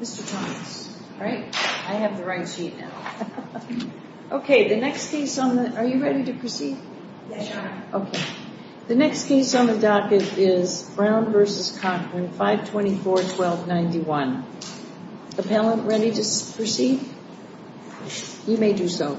Mr. Thomas, right? I have the right sheet now. Okay, the next case on the... Are you ready to proceed? Yes, Your Honor. Okay. The next case on the docket is Brown v. Cochran, 524-1291. Appellant, ready to proceed? You may do so.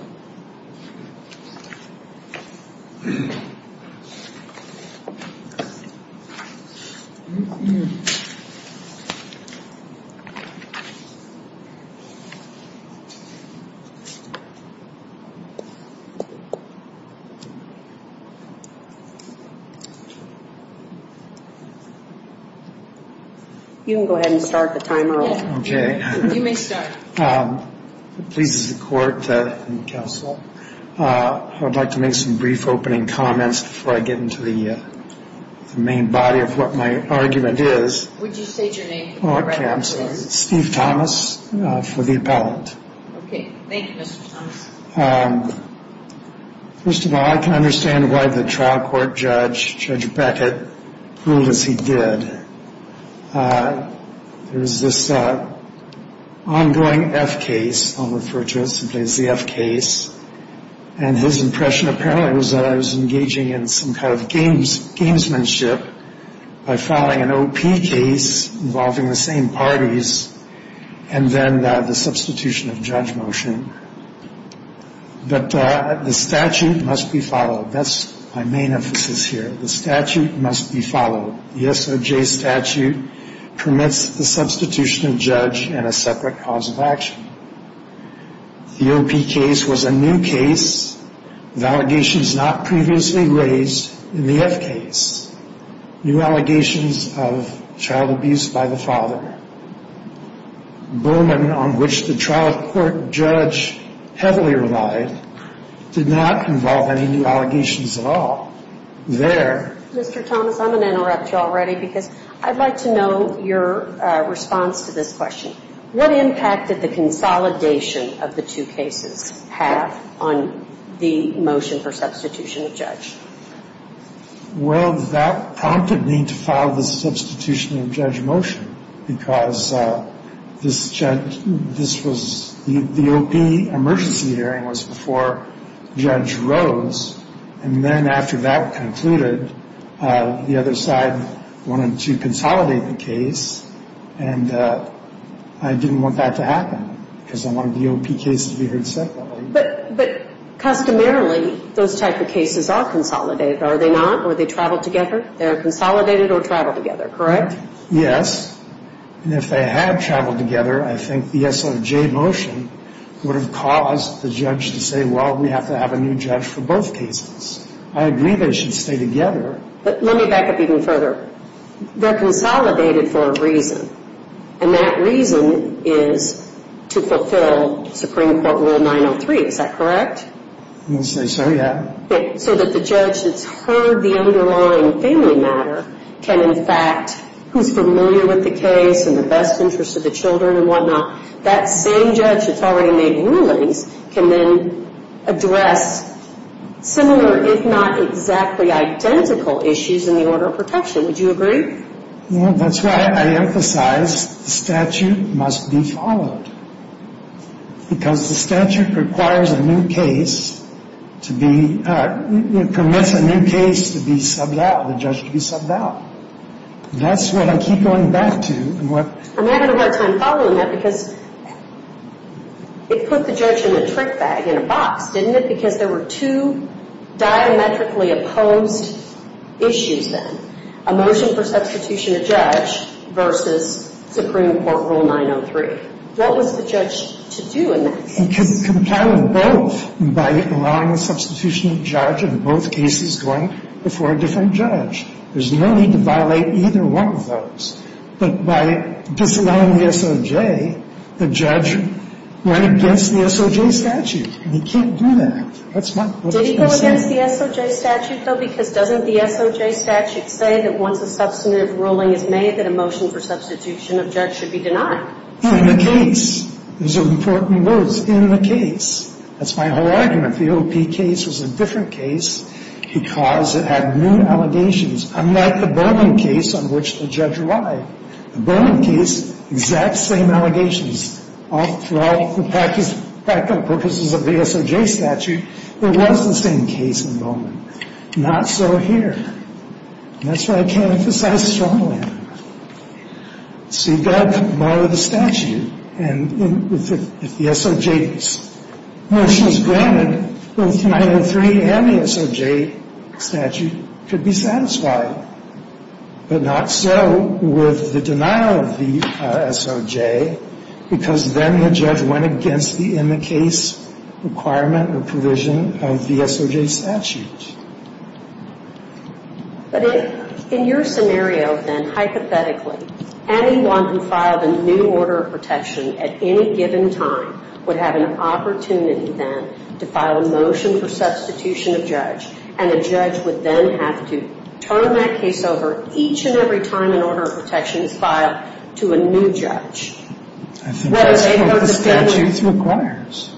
You can go ahead and start the timer off. You may start. It pleases the Court and the Counsel, I would like to make some brief opening comments before I get into the main body of what my argument is. Would you state your name? Steve Thomas for the appellant. Okay. Thank you, Mr. Thomas. First of all, I can understand why the trial court judge, Judge Beckett, ruled as he did. There's this ongoing F case, I'll refer to it simply as the F case, and his impression apparently was that I was engaging in some kind of gamesmanship by filing an O.P. case involving the same parties and then the substitution of judge motion. But the statute must be followed. That's my main emphasis here. The statute must be followed. The SOJ statute permits the substitution of judge and a separate cause of action. The O.P. case was a new case with allegations not previously raised in the F case. New allegations of child abuse by the father. Bowman, on which the trial court judge heavily relied, did not involve any new allegations at all. There... Mr. Thomas, I'm going to interrupt you already because I'd like to know your response to this question. What impact did the consolidation of the two cases have on the motion for substitution of judge? Well, that prompted me to file the substitution of judge motion because this judge... This was... The O.P. emergency hearing was before Judge Rose, and then after that concluded, the other side wanted to consolidate the case, and I didn't want that to happen because I wanted the O.P. case to be heard separately. But customarily, those type of cases are consolidated, are they not? Or they travel together? They're consolidated or travel together, correct? Yes. And if they had traveled together, I think the SOJ motion would have caused the judge to say, well, we have to have a new judge for both cases. I agree they should stay together. But let me back up even further. They're consolidated for a reason, and that reason is to fulfill Supreme Court Rule 903. Is that correct? We'll say so, yeah. So that the judge that's heard the underlying family matter can, in fact, who's familiar with the case and the best interest of the children and whatnot, that same judge that's already made rulings can then address similar, if not exactly identical issues in the order of protection. Would you agree? That's why I emphasize the statute must be followed because the statute requires a new case to be, commits a new case to be subbed out, the judge to be subbed out. That's what I keep going back to. I'm having a hard time following that because it put the judge in a trick bag, in a box, didn't it, because there were two diametrically opposed issues then, a motion for substitution of judge versus Supreme Court Rule 903. What was the judge to do in that case? Because it's compatible with both by allowing the substitution of judge in both cases going before a different judge. There's no need to violate either one of those. But by disallowing the SOJ, the judge went against the SOJ statute, and he can't do that. That's my point. Did he go against the SOJ statute, though? Because doesn't the SOJ statute say that once a substantive ruling is made, that a motion for substitution of judge should be denied? In the case. Those are important words. In the case. That's my whole argument. The OP case was a different case because it had new allegations, unlike the Bowman case on which the judge lied. The Bowman case, exact same allegations. For all the practical purposes of the SOJ statute, it was the same case in Bowman. Not so here. And that's why I can't emphasize strongly enough. So you've got to come to the bottom of the statute, and if the SOJ motion is granted, then both 903 and the SOJ statute could be satisfied. But not so with the denial of the SOJ, because then the judge went against the in-the-case requirement or provision of the SOJ statute. But in your scenario, then, hypothetically, anyone who filed a new order of protection at any given time would have an opportunity, then, to file a motion for substitution of judge, and the judge would then have to turn that case over each and every time an order of protection is filed to a new judge. I think that's what the statute requires.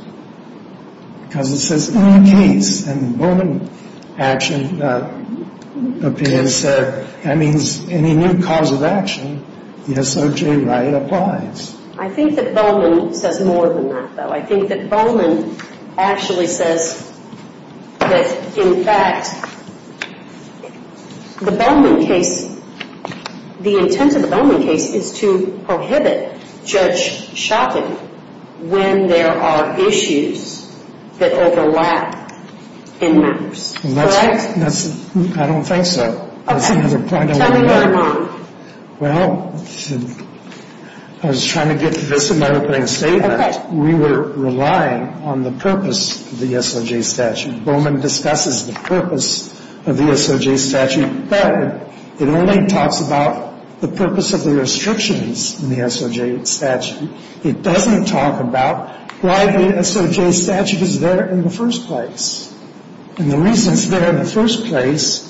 Because it says, in the case, and the Bowman action opinion said, that means any new cause of action, the SOJ right applies. I think that Bowman says more than that, though. I think that Bowman actually says that, in fact, the Bowman case, the intent of the Bowman case is to prohibit judge shopping when there are issues that overlap in matters. Correct? I don't think so. Tell me where I'm wrong. Well, I was trying to get to this in my opening statement. We were relying on the purpose of the SOJ statute. Bowman discusses the purpose of the SOJ statute, but it only talks about the purpose of the restrictions in the SOJ statute. It doesn't talk about why the SOJ statute is there in the first place. And the reason it's there in the first place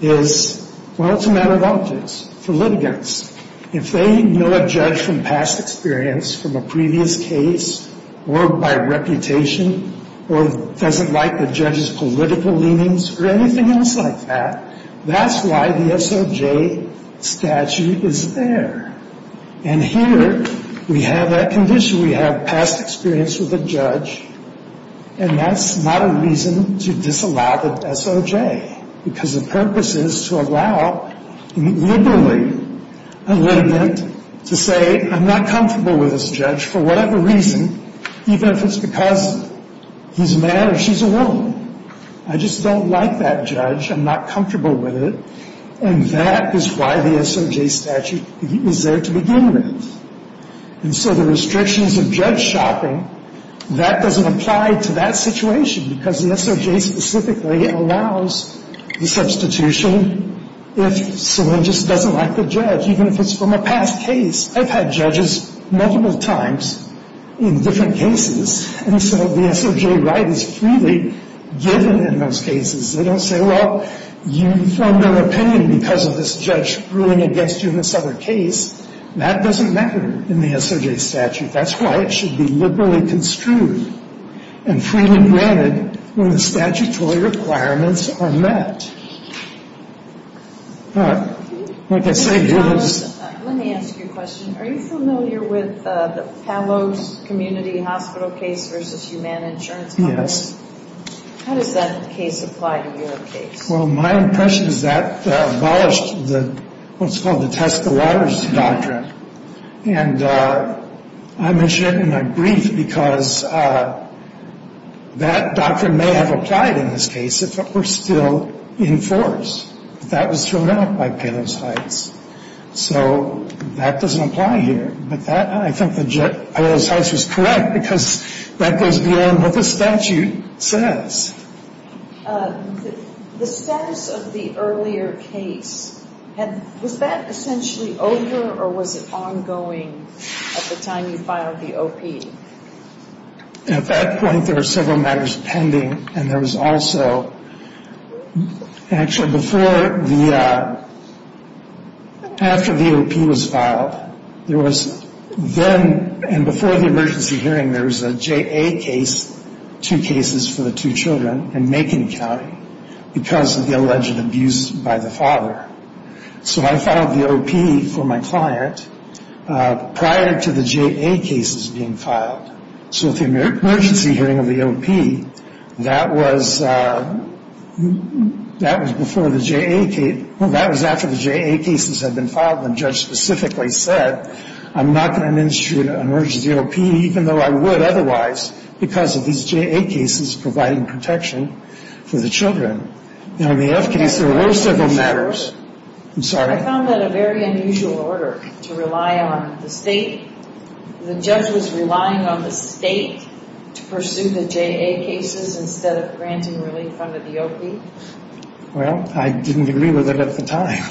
is, well, it's a matter of objects. For litigants, if they know a judge from past experience, from a previous case, or by reputation, or doesn't like the judge's political leanings, or anything else like that, that's why the SOJ statute is there. And here, we have that condition. And that's not a reason to disallow the SOJ, because the purpose is to allow, liberally, a litigant to say, I'm not comfortable with this judge for whatever reason, even if it's because he's a man or she's a woman. I just don't like that judge. I'm not comfortable with it. And that is why the SOJ statute is there to begin with. And so the restrictions of judge shopping, that doesn't apply to that situation, because the SOJ specifically allows the substitution if someone just doesn't like the judge, even if it's from a past case. I've had judges multiple times in different cases, and so the SOJ right is freely given in those cases. They don't say, well, you formed an opinion because of this judge ruling against you in this other case. That doesn't matter in the SOJ statute. That's why it should be liberally construed and freely granted when the statutory requirements are met. But, like I say, it is. Let me ask you a question. Are you familiar with the Palos Community Hospital case versus Humana Insurance? Yes. How does that case apply to your case? Well, my impression is that abolished what's called the test the waters doctrine. And I mentioned it in my brief because that doctrine may have applied in this case if it were still in force. But that was thrown out by Palos Heights. So that doesn't apply here. But I think that Palos Heights was correct because that goes beyond what the statute says. The status of the earlier case, was that essentially over or was it ongoing at the time you filed the OP? At that point, there were several matters pending. And there was also, actually, before the, after the OP was filed, there was then, and before the emergency hearing, there was a JA case, two cases for the two children in Macon County because of the alleged abuse by the father. So I filed the OP for my client prior to the JA cases being filed. So at the emergency hearing of the OP, that was before the JA, well, that was after the JA cases had been filed. The judge specifically said, I'm not going to administer an emergency OP even though I would otherwise because of these JA cases providing protection for the children. Now, in the F case, there were several matters. I found that a very unusual order to rely on the state. The judge was relying on the state to pursue the JA cases instead of granting relief under the OP. Well, I didn't agree with it at the time.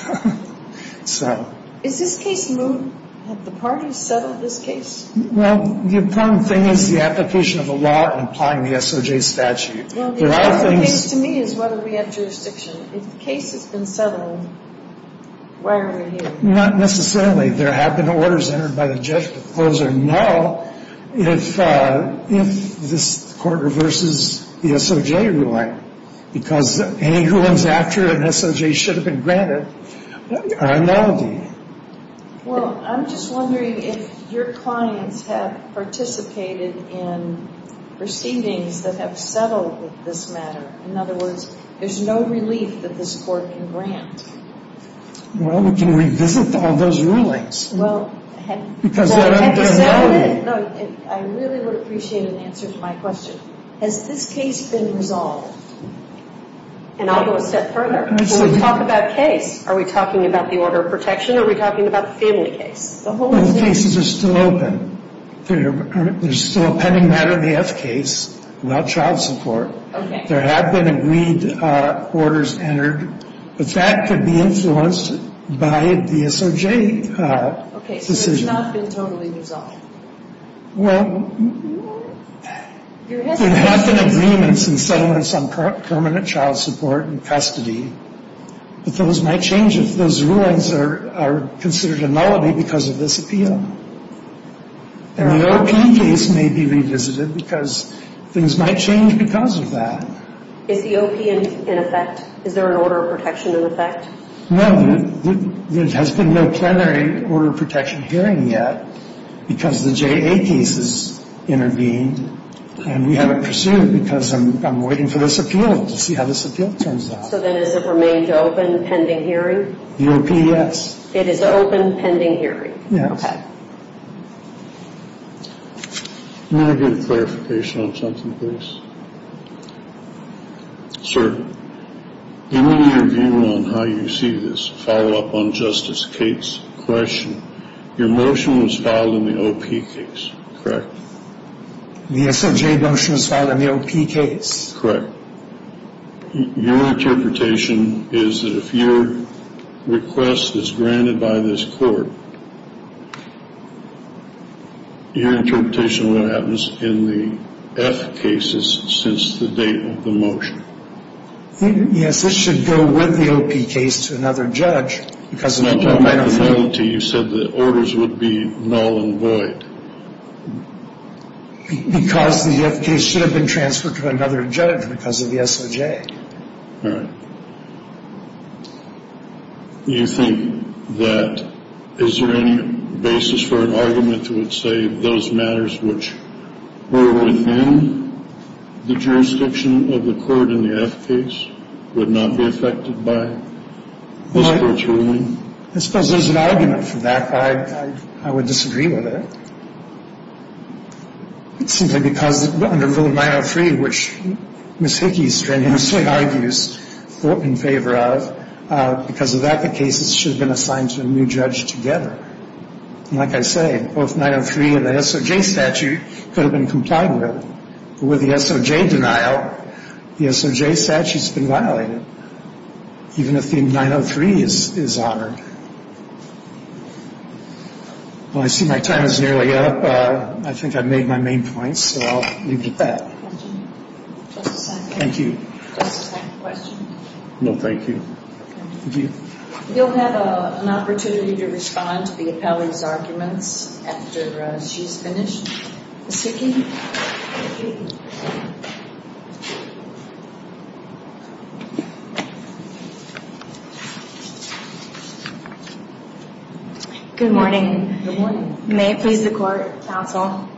So. Is this case moved? Have the parties settled this case? Well, the important thing is the application of the law and applying the SOJ statute. Well, the important thing to me is whether we have jurisdiction. If the case has been settled, why are we here? Not necessarily. There have been orders entered by the judge to close or null if this court reverses the SOJ ruling because any rulings after an SOJ should have been granted are a nullity. Well, I'm just wondering if your clients have participated in proceedings that have settled this matter. In other words, there's no relief that this court can grant. Well, we can revisit all those rulings because they're a nullity. I really would appreciate an answer to my question. Has this case been resolved? And I'll go a step further. When we talk about case, are we talking about the order of protection or are we talking about the family case? Well, the cases are still open. There's still a pending matter in the F case without child support. There have been agreed orders entered. But that could be influenced by the SOJ decision. Okay, so it's not been totally resolved. Well, there have been agreements and settlements on permanent child support and custody. But those might change if those rulings are considered a nullity because of this appeal. And the OPE case may be revisited because things might change because of that. Is the OPE in effect? Is there an order of protection in effect? No. There has been no plenary order of protection hearing yet because the JA case has intervened. And we haven't pursued it because I'm waiting for this appeal to see how this appeal turns out. So then does it remain open, pending hearing? The OPE, yes. It is open, pending hearing? Yes. Okay. May I get a clarification on something, please? Sir, give me your view on how you see this. Follow up on Justice Cates' question. Your motion was filed in the OPE case, correct? The SOJ motion was filed in the OPE case. Correct. Your interpretation is that if your request is granted by this court, your interpretation of what happens in the F cases since the date of the motion? Yes. This should go with the OPE case to another judge because of the penalty. You said the orders would be null and void. Because the F case should have been transferred to another judge because of the SOJ. All right. You think that is there any basis for an argument to say those matters which were within the jurisdiction of the court in the F case would not be affected by this court's ruling? I suppose there's an argument for that. I would disagree with it. It's simply because under Rule 903, which Ms. Hickey strangely argues in favor of, because of that the cases should have been assigned to a new judge together. And like I say, both 903 and the SOJ statute could have been complied with. But with the SOJ denial, the SOJ statute has been violated, even if the 903 is honored. Well, I see my time is nearly up. I think I've made my main points, so I'll leave it at that. Just a second. Thank you. Just a second question. No, thank you. You'll have an opportunity to respond to the appellee's arguments after she's finished. Ms. Hickey? Ms. Hickey? Good morning. Good morning. May it please the Court, Counsel?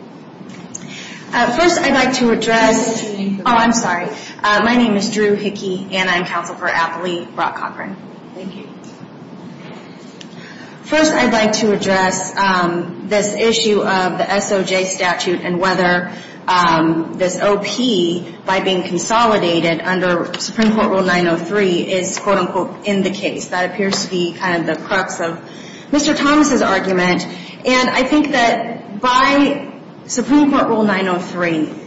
First, I'd like to address... What's your name? Oh, I'm sorry. My name is Drew Hickey, and I'm Counsel for Appellee Brock Cochran. Thank you. First, I'd like to address this issue of the SOJ statute and whether this OP, by being consolidated under Supreme Court Rule 903, is quote, unquote, in the case. That appears to be kind of the crux of Mr. Thomas' argument. And I think that by Supreme Court Rule 903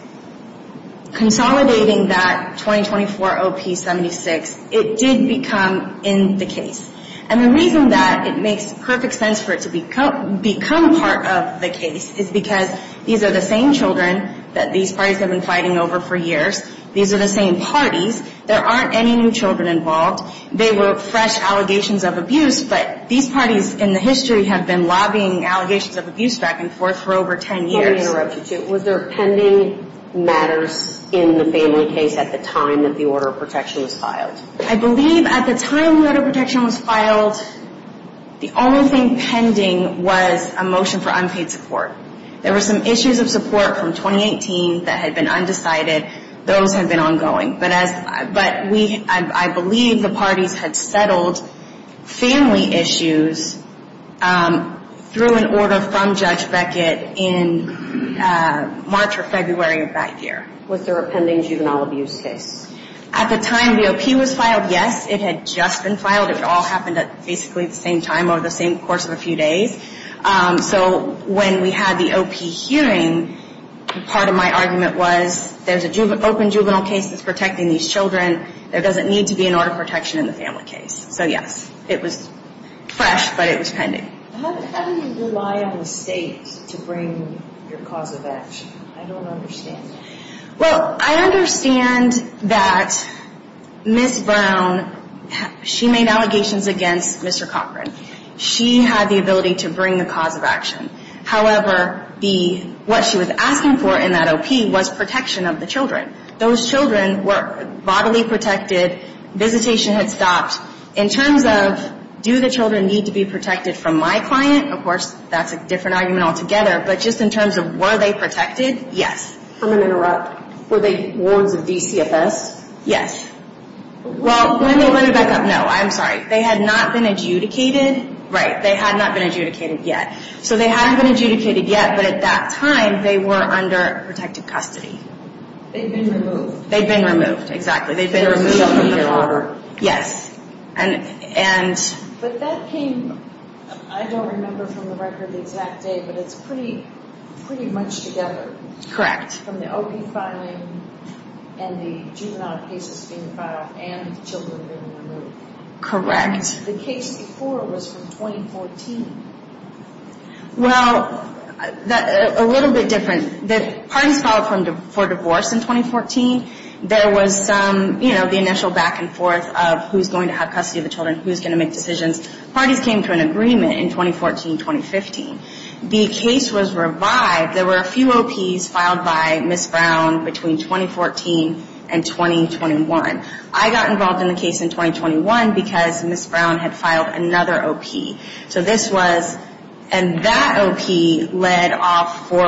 consolidating that 2024 OP 76, it did become in the case. And the reason that it makes perfect sense for it to become part of the case is because these are the same children that these parties have been fighting over for years. These are the same parties. There aren't any new children involved. They were fresh allegations of abuse, but these parties in the history have been lobbying allegations of abuse back and forth for over 10 years. Before I interrupt you, too, was there pending matters in the family case at the time that the Order of Protection was filed? I believe at the time the Order of Protection was filed, the only thing pending was a motion for unpaid support. There were some issues of support from 2018 that had been undecided. Those have been ongoing. But I believe the parties had settled family issues through an order from Judge Beckett in March or February of that year. Was there a pending juvenile abuse case? At the time the OP was filed, yes, it had just been filed. It all happened at basically the same time over the same course of a few days. So when we had the OP hearing, part of my argument was there's an open juvenile case that's protecting these children. There doesn't need to be an Order of Protection in the family case. So yes, it was fresh, but it was pending. How do you rely on the state to bring your cause of action? I don't understand. Well, I understand that Ms. Brown, she made allegations against Mr. Cochran. She had the ability to bring the cause of action. However, what she was asking for in that OP was protection of the children. Those children were bodily protected. Visitation had stopped. In terms of do the children need to be protected from my client, of course, that's a different argument altogether. But just in terms of were they protected, yes. I'm going to interrupt. Were they wards of DCFS? Yes. Well, let me back up. No, I'm sorry. They had not been adjudicated. Right. They had not been adjudicated yet. So they hadn't been adjudicated yet, but at that time, they were under protected custody. They'd been removed. They'd been removed. They'd been removed from the order. But that came, I don't remember from the record the exact day, but it's pretty much together. Correct. From the OP filing and the juvenile cases being filed and the children being removed. Correct. The case before was from 2014. Well, a little bit different. Parties filed for divorce in 2014. There was the initial back and forth of who's going to have custody of the children, who's going to make decisions. Parties came to an agreement in 2014, 2015. The case was revived. There were a few OPs filed by Ms. Brown between 2014 and 2021. I got involved in the case in 2021 because Ms. Brown had filed another OP. So this was, and that OP led off for,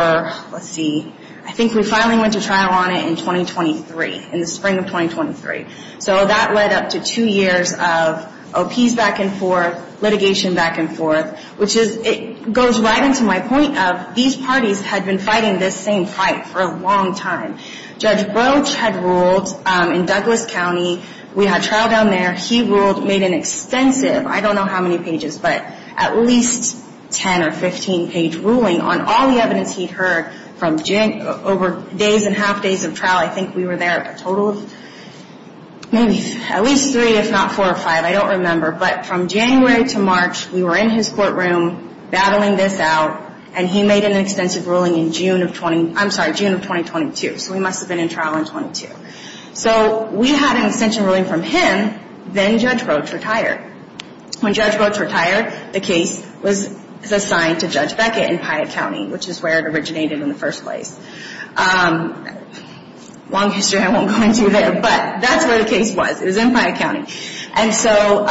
let's see, I think we finally went to trial on it in 2023, in the spring of 2023. So that led up to two years of OPs back and forth, litigation back and forth, which is, it goes right into my point of these parties had been fighting this same fight for a long time. Judge Roach had ruled in Douglas County. We had trial down there. He ruled, made an extensive, I don't know how many pages, but at least 10 or 15 page ruling on all the evidence he'd heard from Jan, over days and half days of trial. I think we were there a total of maybe at least three, if not four or five. I don't remember. But from January to March, we were in his courtroom battling this out. And he made an extensive ruling in June of 20, I'm sorry, June of 2022. So we must have been in trial in 22. So we had an extension ruling from him. Then Judge Roach retired. When Judge Roach retired, the case was assigned to Judge Beckett in Piatt County, which is where it originated in the first place. Long history, I won't go into there, but that's where the case was. It was in Piatt County. And so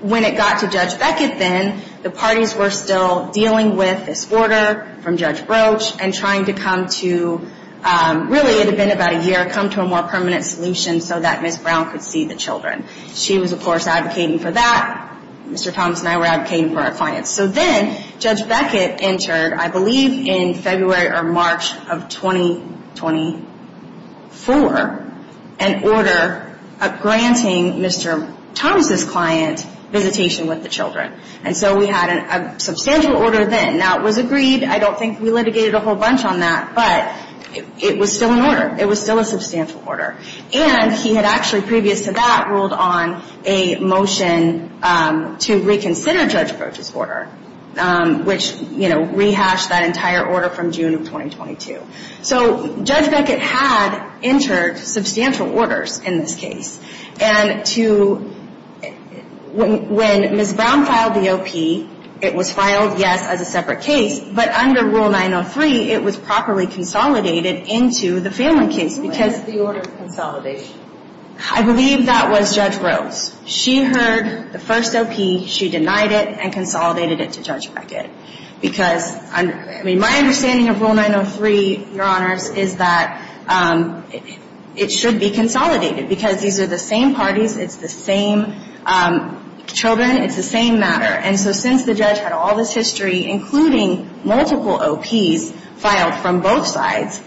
when it got to Judge Beckett then, the parties were still dealing with this order from Judge Roach and trying to come to, really it had been about a year, come to a more permanent solution so that Ms. Brown could see the children. She was, of course, advocating for that. Mr. Thomas and I were advocating for our clients. So then Judge Beckett entered, I believe in February or March of 2024, an order granting Mr. Thomas' client visitation with the children. And so we had a substantial order then. Now, it was agreed. I don't think we litigated a whole bunch on that. But it was still an order. It was still a substantial order. And he had actually, previous to that, ruled on a motion to reconsider Judge Roach's order, which, you know, rehashed that entire order from June of 2022. So Judge Beckett had entered substantial orders in this case. And to, when Ms. Brown filed the OP, it was filed, yes, as a separate case. But under Rule 903, it was properly consolidated into the family case. What was the order of consolidation? I believe that was Judge Roach. She heard the first OP. She denied it and consolidated it to Judge Beckett. Because, I mean, my understanding of Rule 903, Your Honors, is that it should be consolidated. Because these are the same parties. It's the same children. It's the same matter. And so since the judge had all this history, including multiple OPs filed from both sides,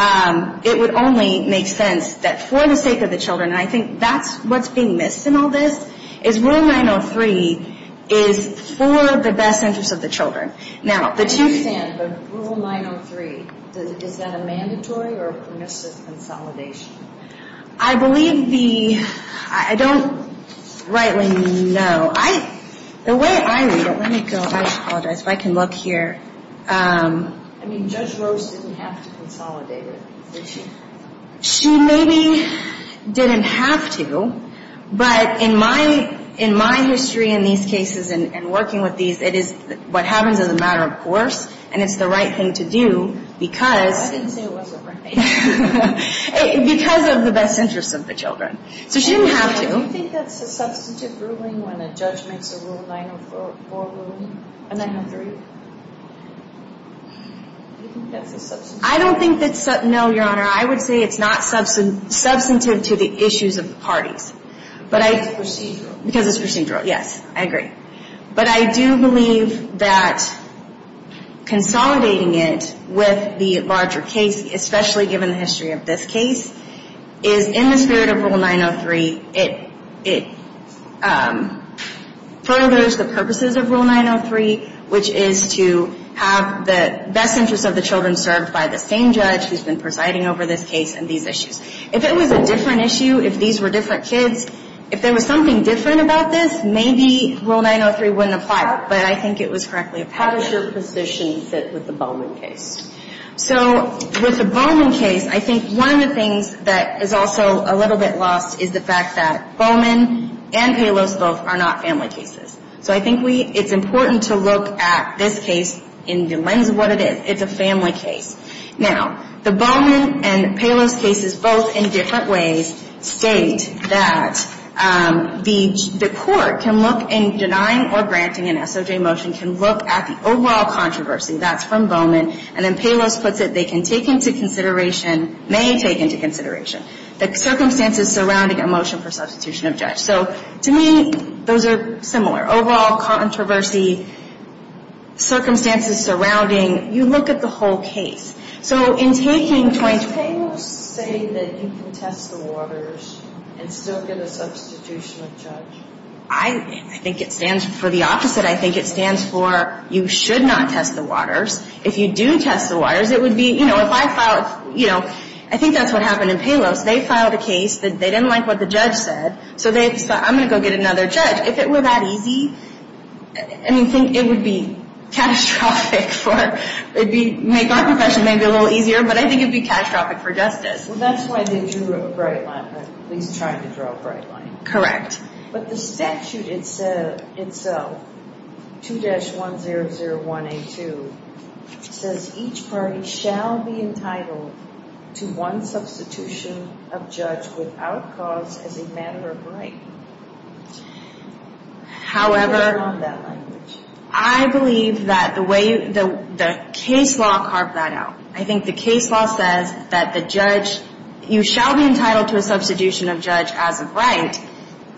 it would only make sense that for the sake of the children, and I think that's what's being missed in all this, is Rule 903 is for the best interest of the children. Now, the two- But Rule 903, is that a mandatory or a permissive consolidation? I believe the, I don't rightly know. The way I read it, let me go, I apologize, if I can look here. I mean, Judge Roach didn't have to consolidate it. She maybe didn't have to, but in my history in these cases and working with these, it is what happens as a matter of course, and it's the right thing to do because- I didn't say it wasn't right. Because of the best interest of the children. So she didn't have to. Do you think that's a substantive ruling when a judge makes a Rule 904 ruling? A 903? Do you think that's a substantive ruling? I don't think that's, no, Your Honor, I would say it's not substantive to the issues of the parties. Because it's procedural. Because it's procedural, yes, I agree. But I do believe that consolidating it with the larger case, especially given the history of this case, is in the spirit of Rule 903, it furthers the purposes of Rule 903, which is to have the best interest of the children served by the same judge who's been presiding over this case and these issues. If it was a different issue, if these were different kids, if there was something different about this, maybe Rule 903 wouldn't apply, but I think it was correctly applied. How does your position fit with the Bowman case? So with the Bowman case, I think one of the things that is also a little bit lost is the fact that Bowman and Palos both are not family cases. So I think it's important to look at this case in the lens of what it is. It's a family case. Now, the Bowman and Palos cases, both in different ways, state that the court can look in denying or granting an SOJ motion, can look at the overall controversy. That's from Bowman. And then Palos puts it, they can take into consideration, may take into consideration, the circumstances surrounding a motion for substitution of judge. So to me, those are similar. Overall controversy, circumstances surrounding. You look at the whole case. So in taking 20- Does Palos say that you can test the waters and still get a substitution of judge? I think it stands for the opposite. I think it stands for you should not test the waters. If you do test the waters, it would be, you know, if I filed, you know, I think that's what happened in Palos. They filed a case. They didn't like what the judge said. So they thought, I'm going to go get another judge. If it were that easy, I mean, it would be catastrophic for, it would make our profession maybe a little easier. But I think it would be catastrophic for justice. Well, that's why they drew a bright line, at least trying to draw a bright line. Correct. But the statute itself, 2-100182, says each party shall be entitled to one substitution of judge without cause as a matter of right. However, I believe that the way the case law carved that out, I think the case law says that the judge, you shall be entitled to a substitution of judge as a right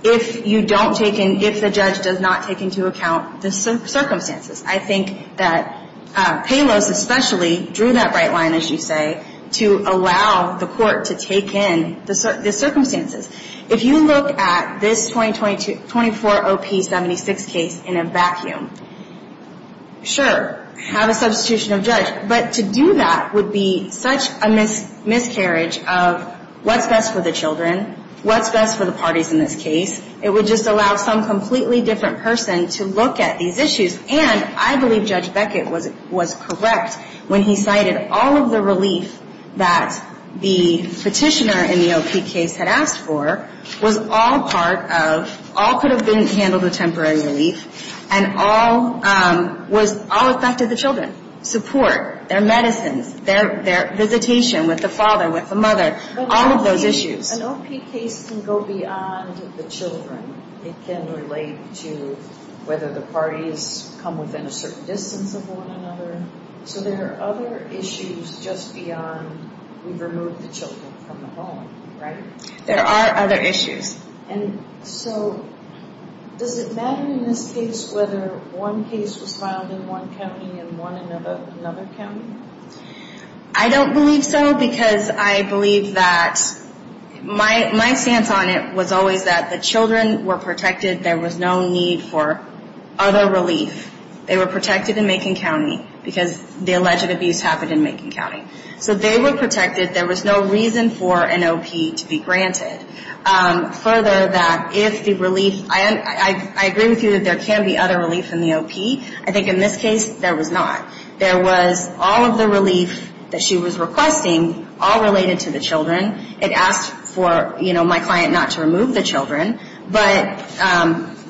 if you don't take in, if the judge does not take into account the circumstances. I think that Palos especially drew that bright line, as you say, to allow the court to take in the circumstances. If you look at this 2024 OP76 case in a vacuum, sure, have a substitution of judge. But to do that would be such a miscarriage of what's best for the children, what's best for the parties in this case. It would just allow some completely different person to look at these issues. And I believe Judge Beckett was correct when he cited all of the relief that the petitioner in the OP case had asked for was all part of, all could have been handled with temporary relief, and all was, all affected the children. Support, their medicines, their visitation with the father, with the mother, all of those issues. An OP case can go beyond the children. It can relate to whether the parties come within a certain distance of one another. So there are other issues just beyond we've removed the children from the home, right? There are other issues. And so does it matter in this case whether one case was filed in one county and one in another county? I don't believe so, because I believe that my stance on it was always that the children were protected. There was no need for other relief. They were protected in Macon County, because the alleged abuse happened in Macon County. So they were protected. There was no reason for an OP to be granted. Further, that if the relief, I agree with you that there can be other relief in the OP. I think in this case, there was not. There was all of the relief that she was requesting, all related to the children. It asked for, you know, my client not to remove the children. But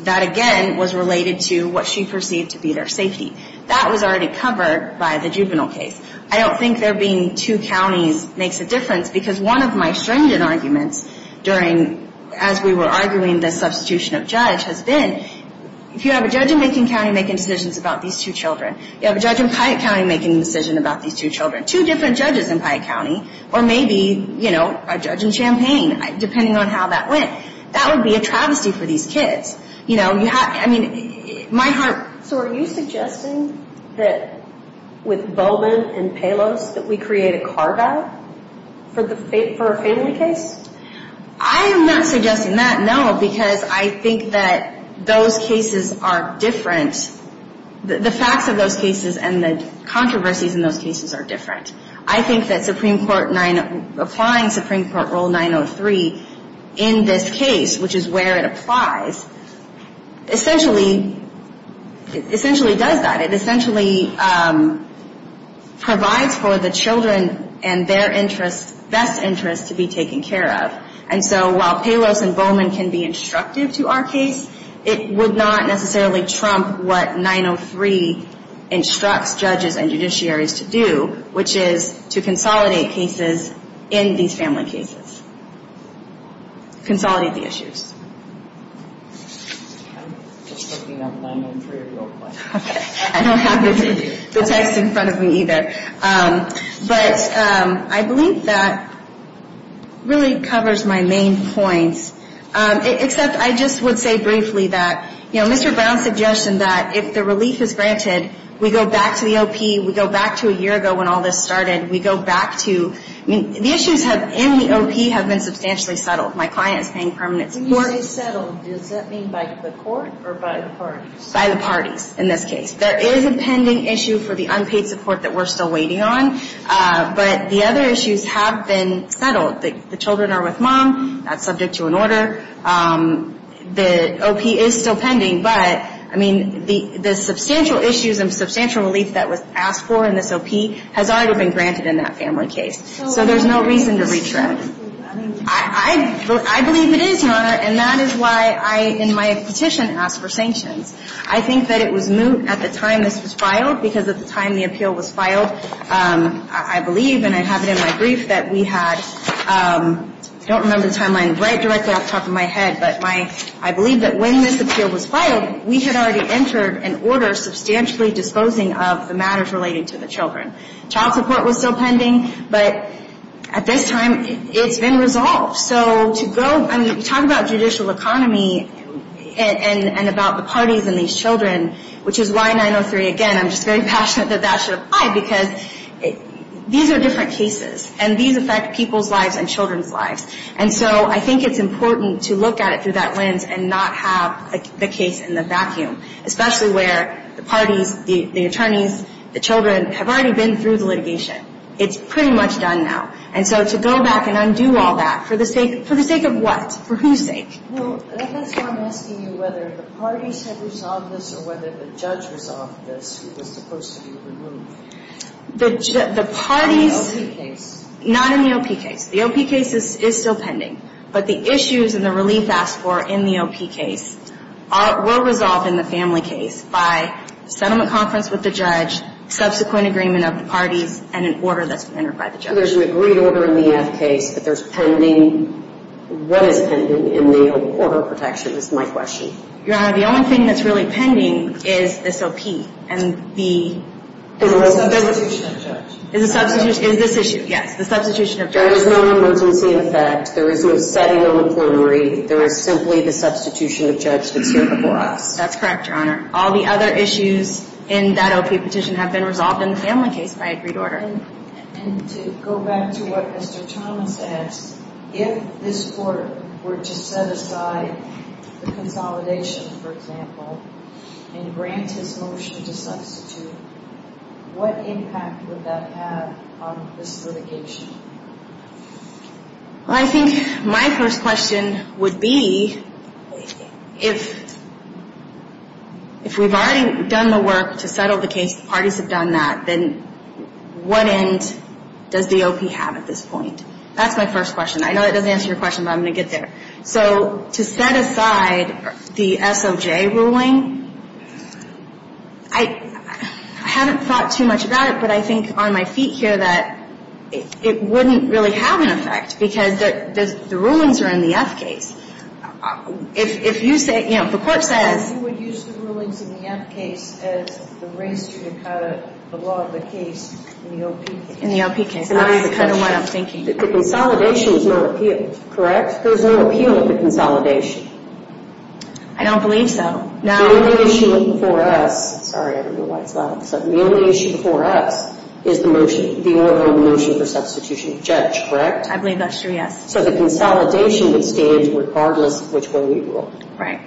that again was related to what she perceived to be their safety. That was already covered by the juvenile case. I don't think there being two counties makes a difference, because one of my stringent arguments during, as we were arguing the substitution of judge, has been, if you have a judge in Macon County making decisions about these two children, you have a judge in Piatt County making a decision about these two children, two different judges in Piatt County, or maybe, you know, a judge in Champaign, depending on how that went. That would be a travesty for these kids. You know, you have, I mean, my heart... So are you suggesting that with Bowman and Pelos that we create a car ban for a family case? I am not suggesting that, no, because I think that those cases are different. The facts of those cases and the controversies in those cases are different. I think that Supreme Court 9, applying Supreme Court Rule 903 in this case, which is where it applies, essentially does that. It essentially provides for the children and their best interests to be taken care of. And so while Pelos and Bowman can be instructive to our case, it would not necessarily trump what 903 instructs judges and judiciaries to do, which is to consolidate cases in these family cases, consolidate the issues. I'm just looking up 903 real quick. I don't have the text in front of me either. But I believe that really covers my main points, except I just would say briefly that, you know, Mr. Brown's suggestion that if the relief is granted, we go back to the OP, we go back to a year ago when all this started. We go back to, I mean, the issues in the OP have been substantially settled. My client is paying permanent support. When you say settled, does that mean by the court or by the parties? By the parties in this case. There is a pending issue for the unpaid support that we're still waiting on. But the other issues have been settled. The children are with mom. That's subject to an order. The OP is still pending. But, I mean, the substantial issues and substantial relief that was asked for in this OP has already been granted in that family case. So there's no reason to retread. I believe it is, Your Honor, and that is why I, in my petition, asked for sanctions. I think that it was moot at the time this was filed because at the time the appeal was filed, I believe, and I have it in my brief that we had, I don't remember the timeline right directly off the top of my head, but I believe that when this appeal was filed, we had already entered an order substantially disposing of the matters relating to the children. Child support was still pending. But at this time, it's been resolved. So to go, I mean, you talk about judicial economy and about the parties and these children, which is why 903, again, I'm just very passionate that that should apply because these are different cases and these affect people's lives and children's lives. And so I think it's important to look at it through that lens and not have the case in the vacuum, especially where the parties, the attorneys, the children have already been through the litigation. It's pretty much done now. And so to go back and undo all that, for the sake of what? For whose sake? Well, that's why I'm asking you whether the parties had resolved this or whether the judge resolved this. It was supposed to be removed. The parties. In the O.P. case. Not in the O.P. case. The O.P. case is still pending. But the issues and the relief asked for in the O.P. case were resolved in the family case by settlement conference with the judge, subsequent agreement of the parties, and an order that's been entered by the judge. So there's an agreed order in the F case, but there's pending. What is pending in the order of protection is my question. Your Honor, the only thing that's really pending is this O.P. And the substitution of judge. Is this issue, yes, the substitution of judge. There is no emergency effect. There is no setting of a plenary. There is simply the substitution of judge that's here before us. That's correct, Your Honor. All the other issues in that O.P. petition have been resolved in the family case by agreed order. And to go back to what Mr. Thomas asked, if this court were to set aside the consolidation, for example, and grant his motion to substitute, what impact would that have on this litigation? Well, I think my first question would be if we've already done the work to settle the case, parties have done that, then what end does the O.P. have at this point? That's my first question. I know that doesn't answer your question, but I'm going to get there. So to set aside the S.O.J. ruling, I haven't thought too much about it, but I think on my feet here that it wouldn't really have an effect because the rulings are in the F case. If you say, you know, if the court says... You would use the rulings in the F case as the race to cut the law of the case in the O.P. case. In the O.P. case. That's the kind of one I'm thinking. The consolidation is no appeal, correct? There's no appeal at the consolidation. I don't believe so. Now... The only issue before us, sorry, I don't know why it's loud all of a sudden, the only issue before us is the motion, the overall motion for substitution of judge, correct? I believe that's true, yes. So the consolidation would stand regardless of which way we ruled. Right.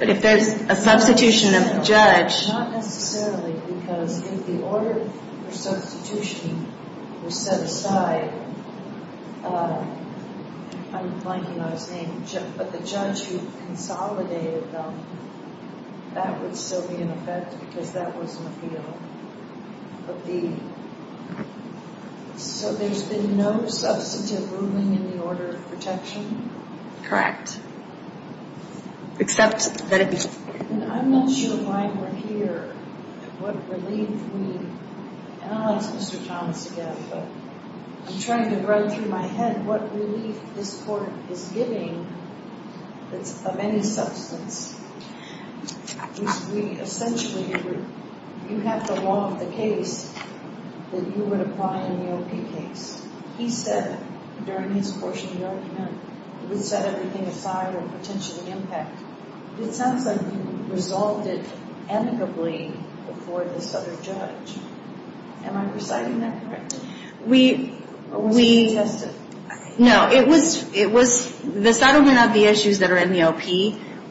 But if there's a substitution of judge... Not necessarily, because if the order for substitution was set aside, I'm blanking on his name, but the judge who consolidated them, that would still be in effect because that was an appeal. But the... So there's been no substantive ruling in the order of protection? Correct. Except that it... And I'm not sure why we're here, what relief we... And I'll ask Mr. Thomas again, but I'm trying to run through my head what relief this court is giving that's of any substance. We essentially... You have the law of the case that you would apply in the OP case. He said during his portion of the argument, we set everything aside for potential impact. It sounds like you resolved it amicably before this other judge. Am I reciting that correctly? We... No, it was... The settlement of the issues that are in the OP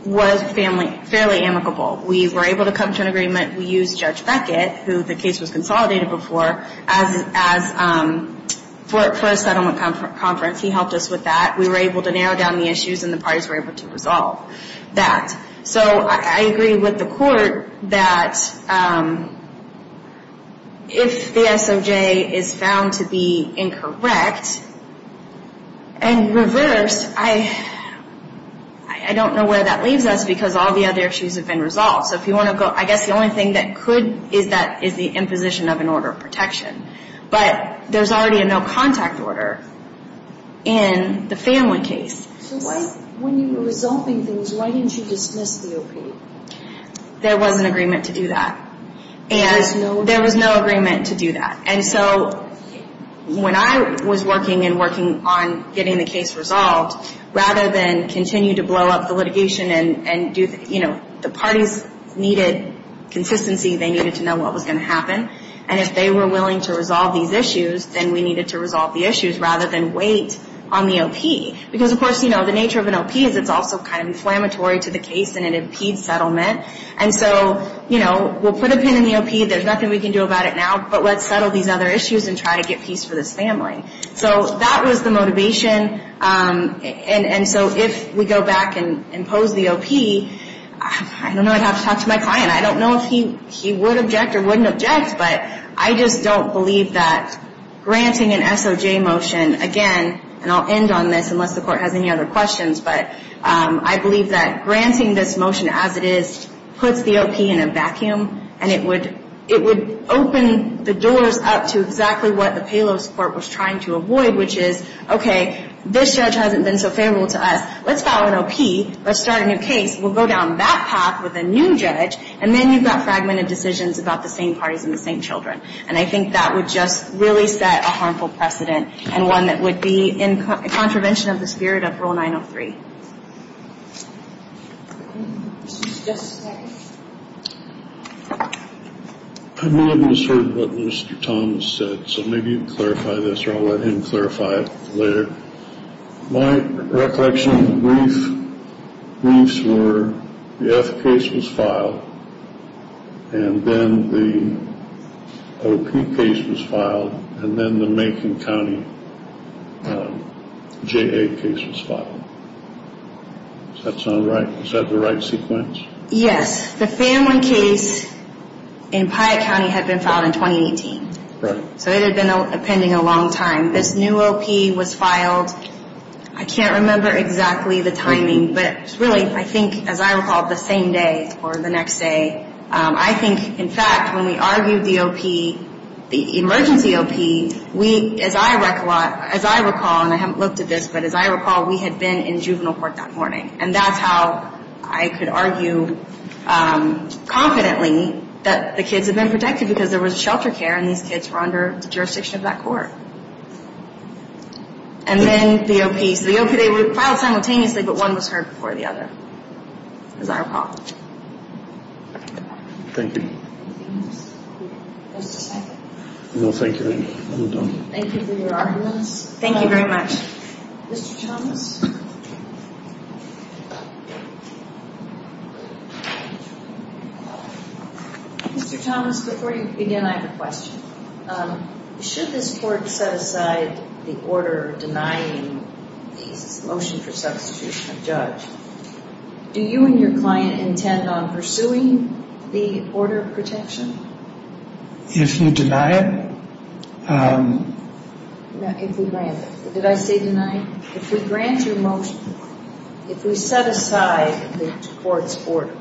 was fairly amicable. We were able to come to an agreement. We used Judge Beckett, who the case was consolidated before, for a settlement conference. He helped us with that. We were able to narrow down the issues, and the parties were able to resolve that. So I agree with the court that if the SOJ is found to be incorrect and reversed, I don't know where that leaves us because all the other issues have been resolved. So if you want to go... I guess the only thing that could is that is the imposition of an order of protection. But there's already a no-contact order in the family case. So when you were resolving things, why didn't you dismiss the OP? There was an agreement to do that. There was no... There was no agreement to do that. And so when I was working and working on getting the case resolved, rather than continue to blow up the litigation and do... You know, the parties needed consistency. They needed to know what was going to happen. And if they were willing to resolve these issues, then we needed to resolve the issues rather than wait on the OP. Because, of course, you know, the nature of an OP is it's also kind of inflammatory to the case, and it impedes settlement. And so, you know, we'll put a pin in the OP. There's nothing we can do about it now. But let's settle these other issues and try to get peace for this family. So that was the motivation. And so if we go back and impose the OP, I don't know. I'd have to talk to my client. I don't know if he would object or wouldn't object. But I just don't believe that granting an SOJ motion, again, and I'll end on this unless the Court has any other questions, but I believe that granting this motion as it is puts the OP in a vacuum, and it would open the doors up to exactly what the payload support was trying to avoid, which is, okay, this judge hasn't been so favorable to us. Let's file an OP. Let's start a new case. We'll go down that path with a new judge, and then you've got fragmented decisions about the same parties and the same children. And I think that would just really set a harmful precedent and one that would be in contravention of the spirit of Rule 903. Yes, sir. I'm a little discordant with what Mr. Thomas said, so maybe you can clarify this, or I'll let him clarify it later. My recollection of the briefs were the F case was filed, and then the OP case was filed, and then the Macon County JA case was filed. Does that sound right? Is that the right sequence? Yes. The family case in Piatt County had been filed in 2018. Right. So it had been pending a long time. This new OP was filed. I can't remember exactly the timing, but really, I think, as I recall, the same day or the next day, I think, in fact, when we argued the OP, the emergency OP, we, as I recall, and I haven't looked at this, but as I recall, we had been in juvenile court that morning. And that's how I could argue confidently that the kids had been protected because there was shelter care and these kids were under the jurisdiction of that court. And then the OP. So the OP, they were filed simultaneously, but one was heard before the other. As I recall. Thank you. Just a second. No, thank you. I'm done. Thank you for your arguments. Thank you very much. Mr. Thomas? Mr. Thomas, before you begin, I have a question. Should this court set aside the order denying the motion for substitution of judge, do you and your client intend on pursuing the order of protection? If you deny it? If we grant it. Did I say deny? If we grant your motion, if we set aside the court's order,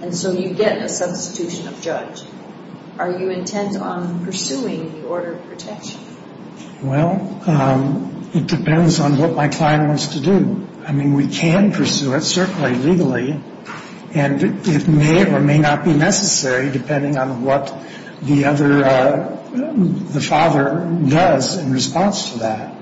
and so you get a substitution of judge, are you intent on pursuing the order of protection? Well, it depends on what my client wants to do. I mean, we can pursue it, certainly legally. And it may or may not be necessary, depending on what the father does in response to that.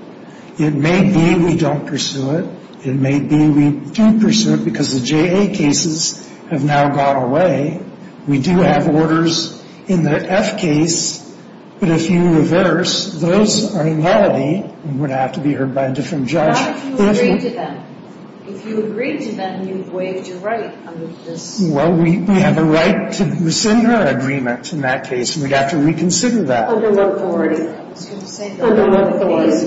It may be we don't pursue it. It may be we do pursue it because the JA cases have now gone away. We do have orders in the F case, but if you reverse, those are nullity and would have to be heard by a different judge. What if you agreed to them? If you agreed to them, you would waive your right under this. Well, we have a right to rescind our agreement in that case, and we'd have to reconsider that. Under what authority? I was going to say. Under what authority?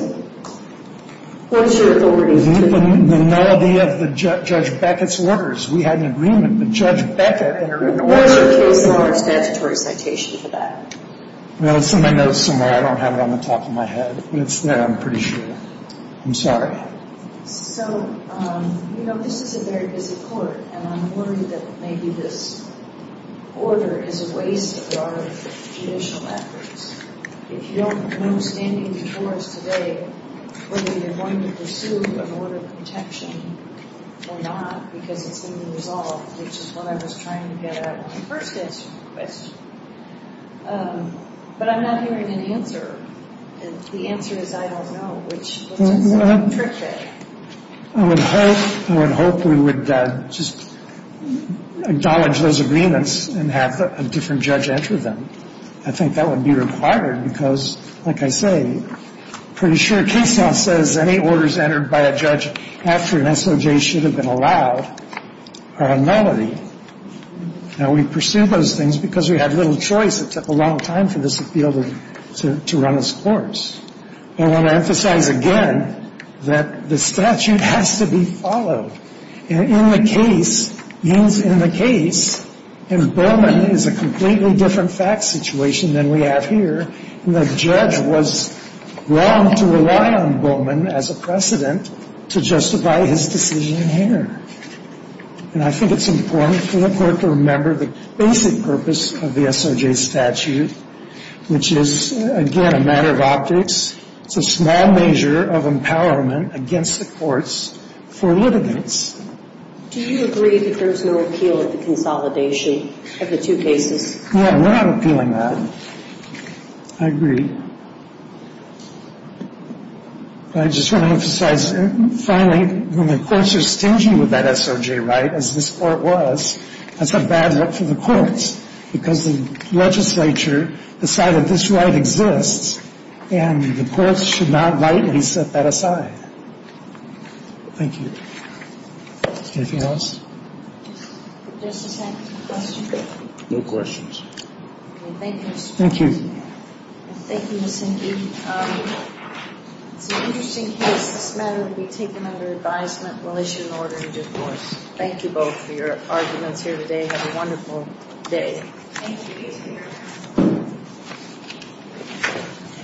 What is your authority? The nullity of Judge Beckett's orders. We had an agreement with Judge Beckett. What is your case law and statutory citation for that? Well, it's in my notes somewhere. I don't have it on the top of my head, but it's there, I'm pretty sure. I'm sorry. So, you know, this is a very busy court, and I'm worried that maybe this order is a waste of our judicial efforts. If you don't know standing before us today whether you're going to pursue an order of protection or not because it's going to be resolved, which is what I was trying to get at in my first answer to the question. But I'm not hearing an answer, and the answer is I don't know, which is a little tricky. I would hope we would just acknowledge those agreements and have a different judge enter them. I think that would be required because, like I say, I'm pretty sure case law says any orders entered by a judge after an SOJ should have been allowed are a nullity. Now, we pursued those things because we had little choice. It took a long time for this appeal to run its course. I want to emphasize again that the statute has to be followed. In the case, in the case, in Bowman is a completely different fact situation than we have here. The judge was wrong to rely on Bowman as a precedent to justify his decision here. And I think it's important for the Court to remember the basic purpose of the SOJ statute, which is, again, a matter of optics. It's a small measure of empowerment against the courts for litigants. Do you agree that there's no appeal at the consolidation of the two cases? No, we're not appealing that. I agree. I just want to emphasize, finally, when the courts are stingy with that SOJ right, as this Court was, that's a bad look for the courts because the legislature decided this right exists, and the courts should not rightly set that aside. Thank you. Anything else? Just a second. No questions. Thank you. Thank you. Thank you, Miss Enge. It's an interesting case. This matter will be taken under advisement. We'll issue an order in divorce. Thank you both for your arguments here today. Have a wonderful day. Thank you.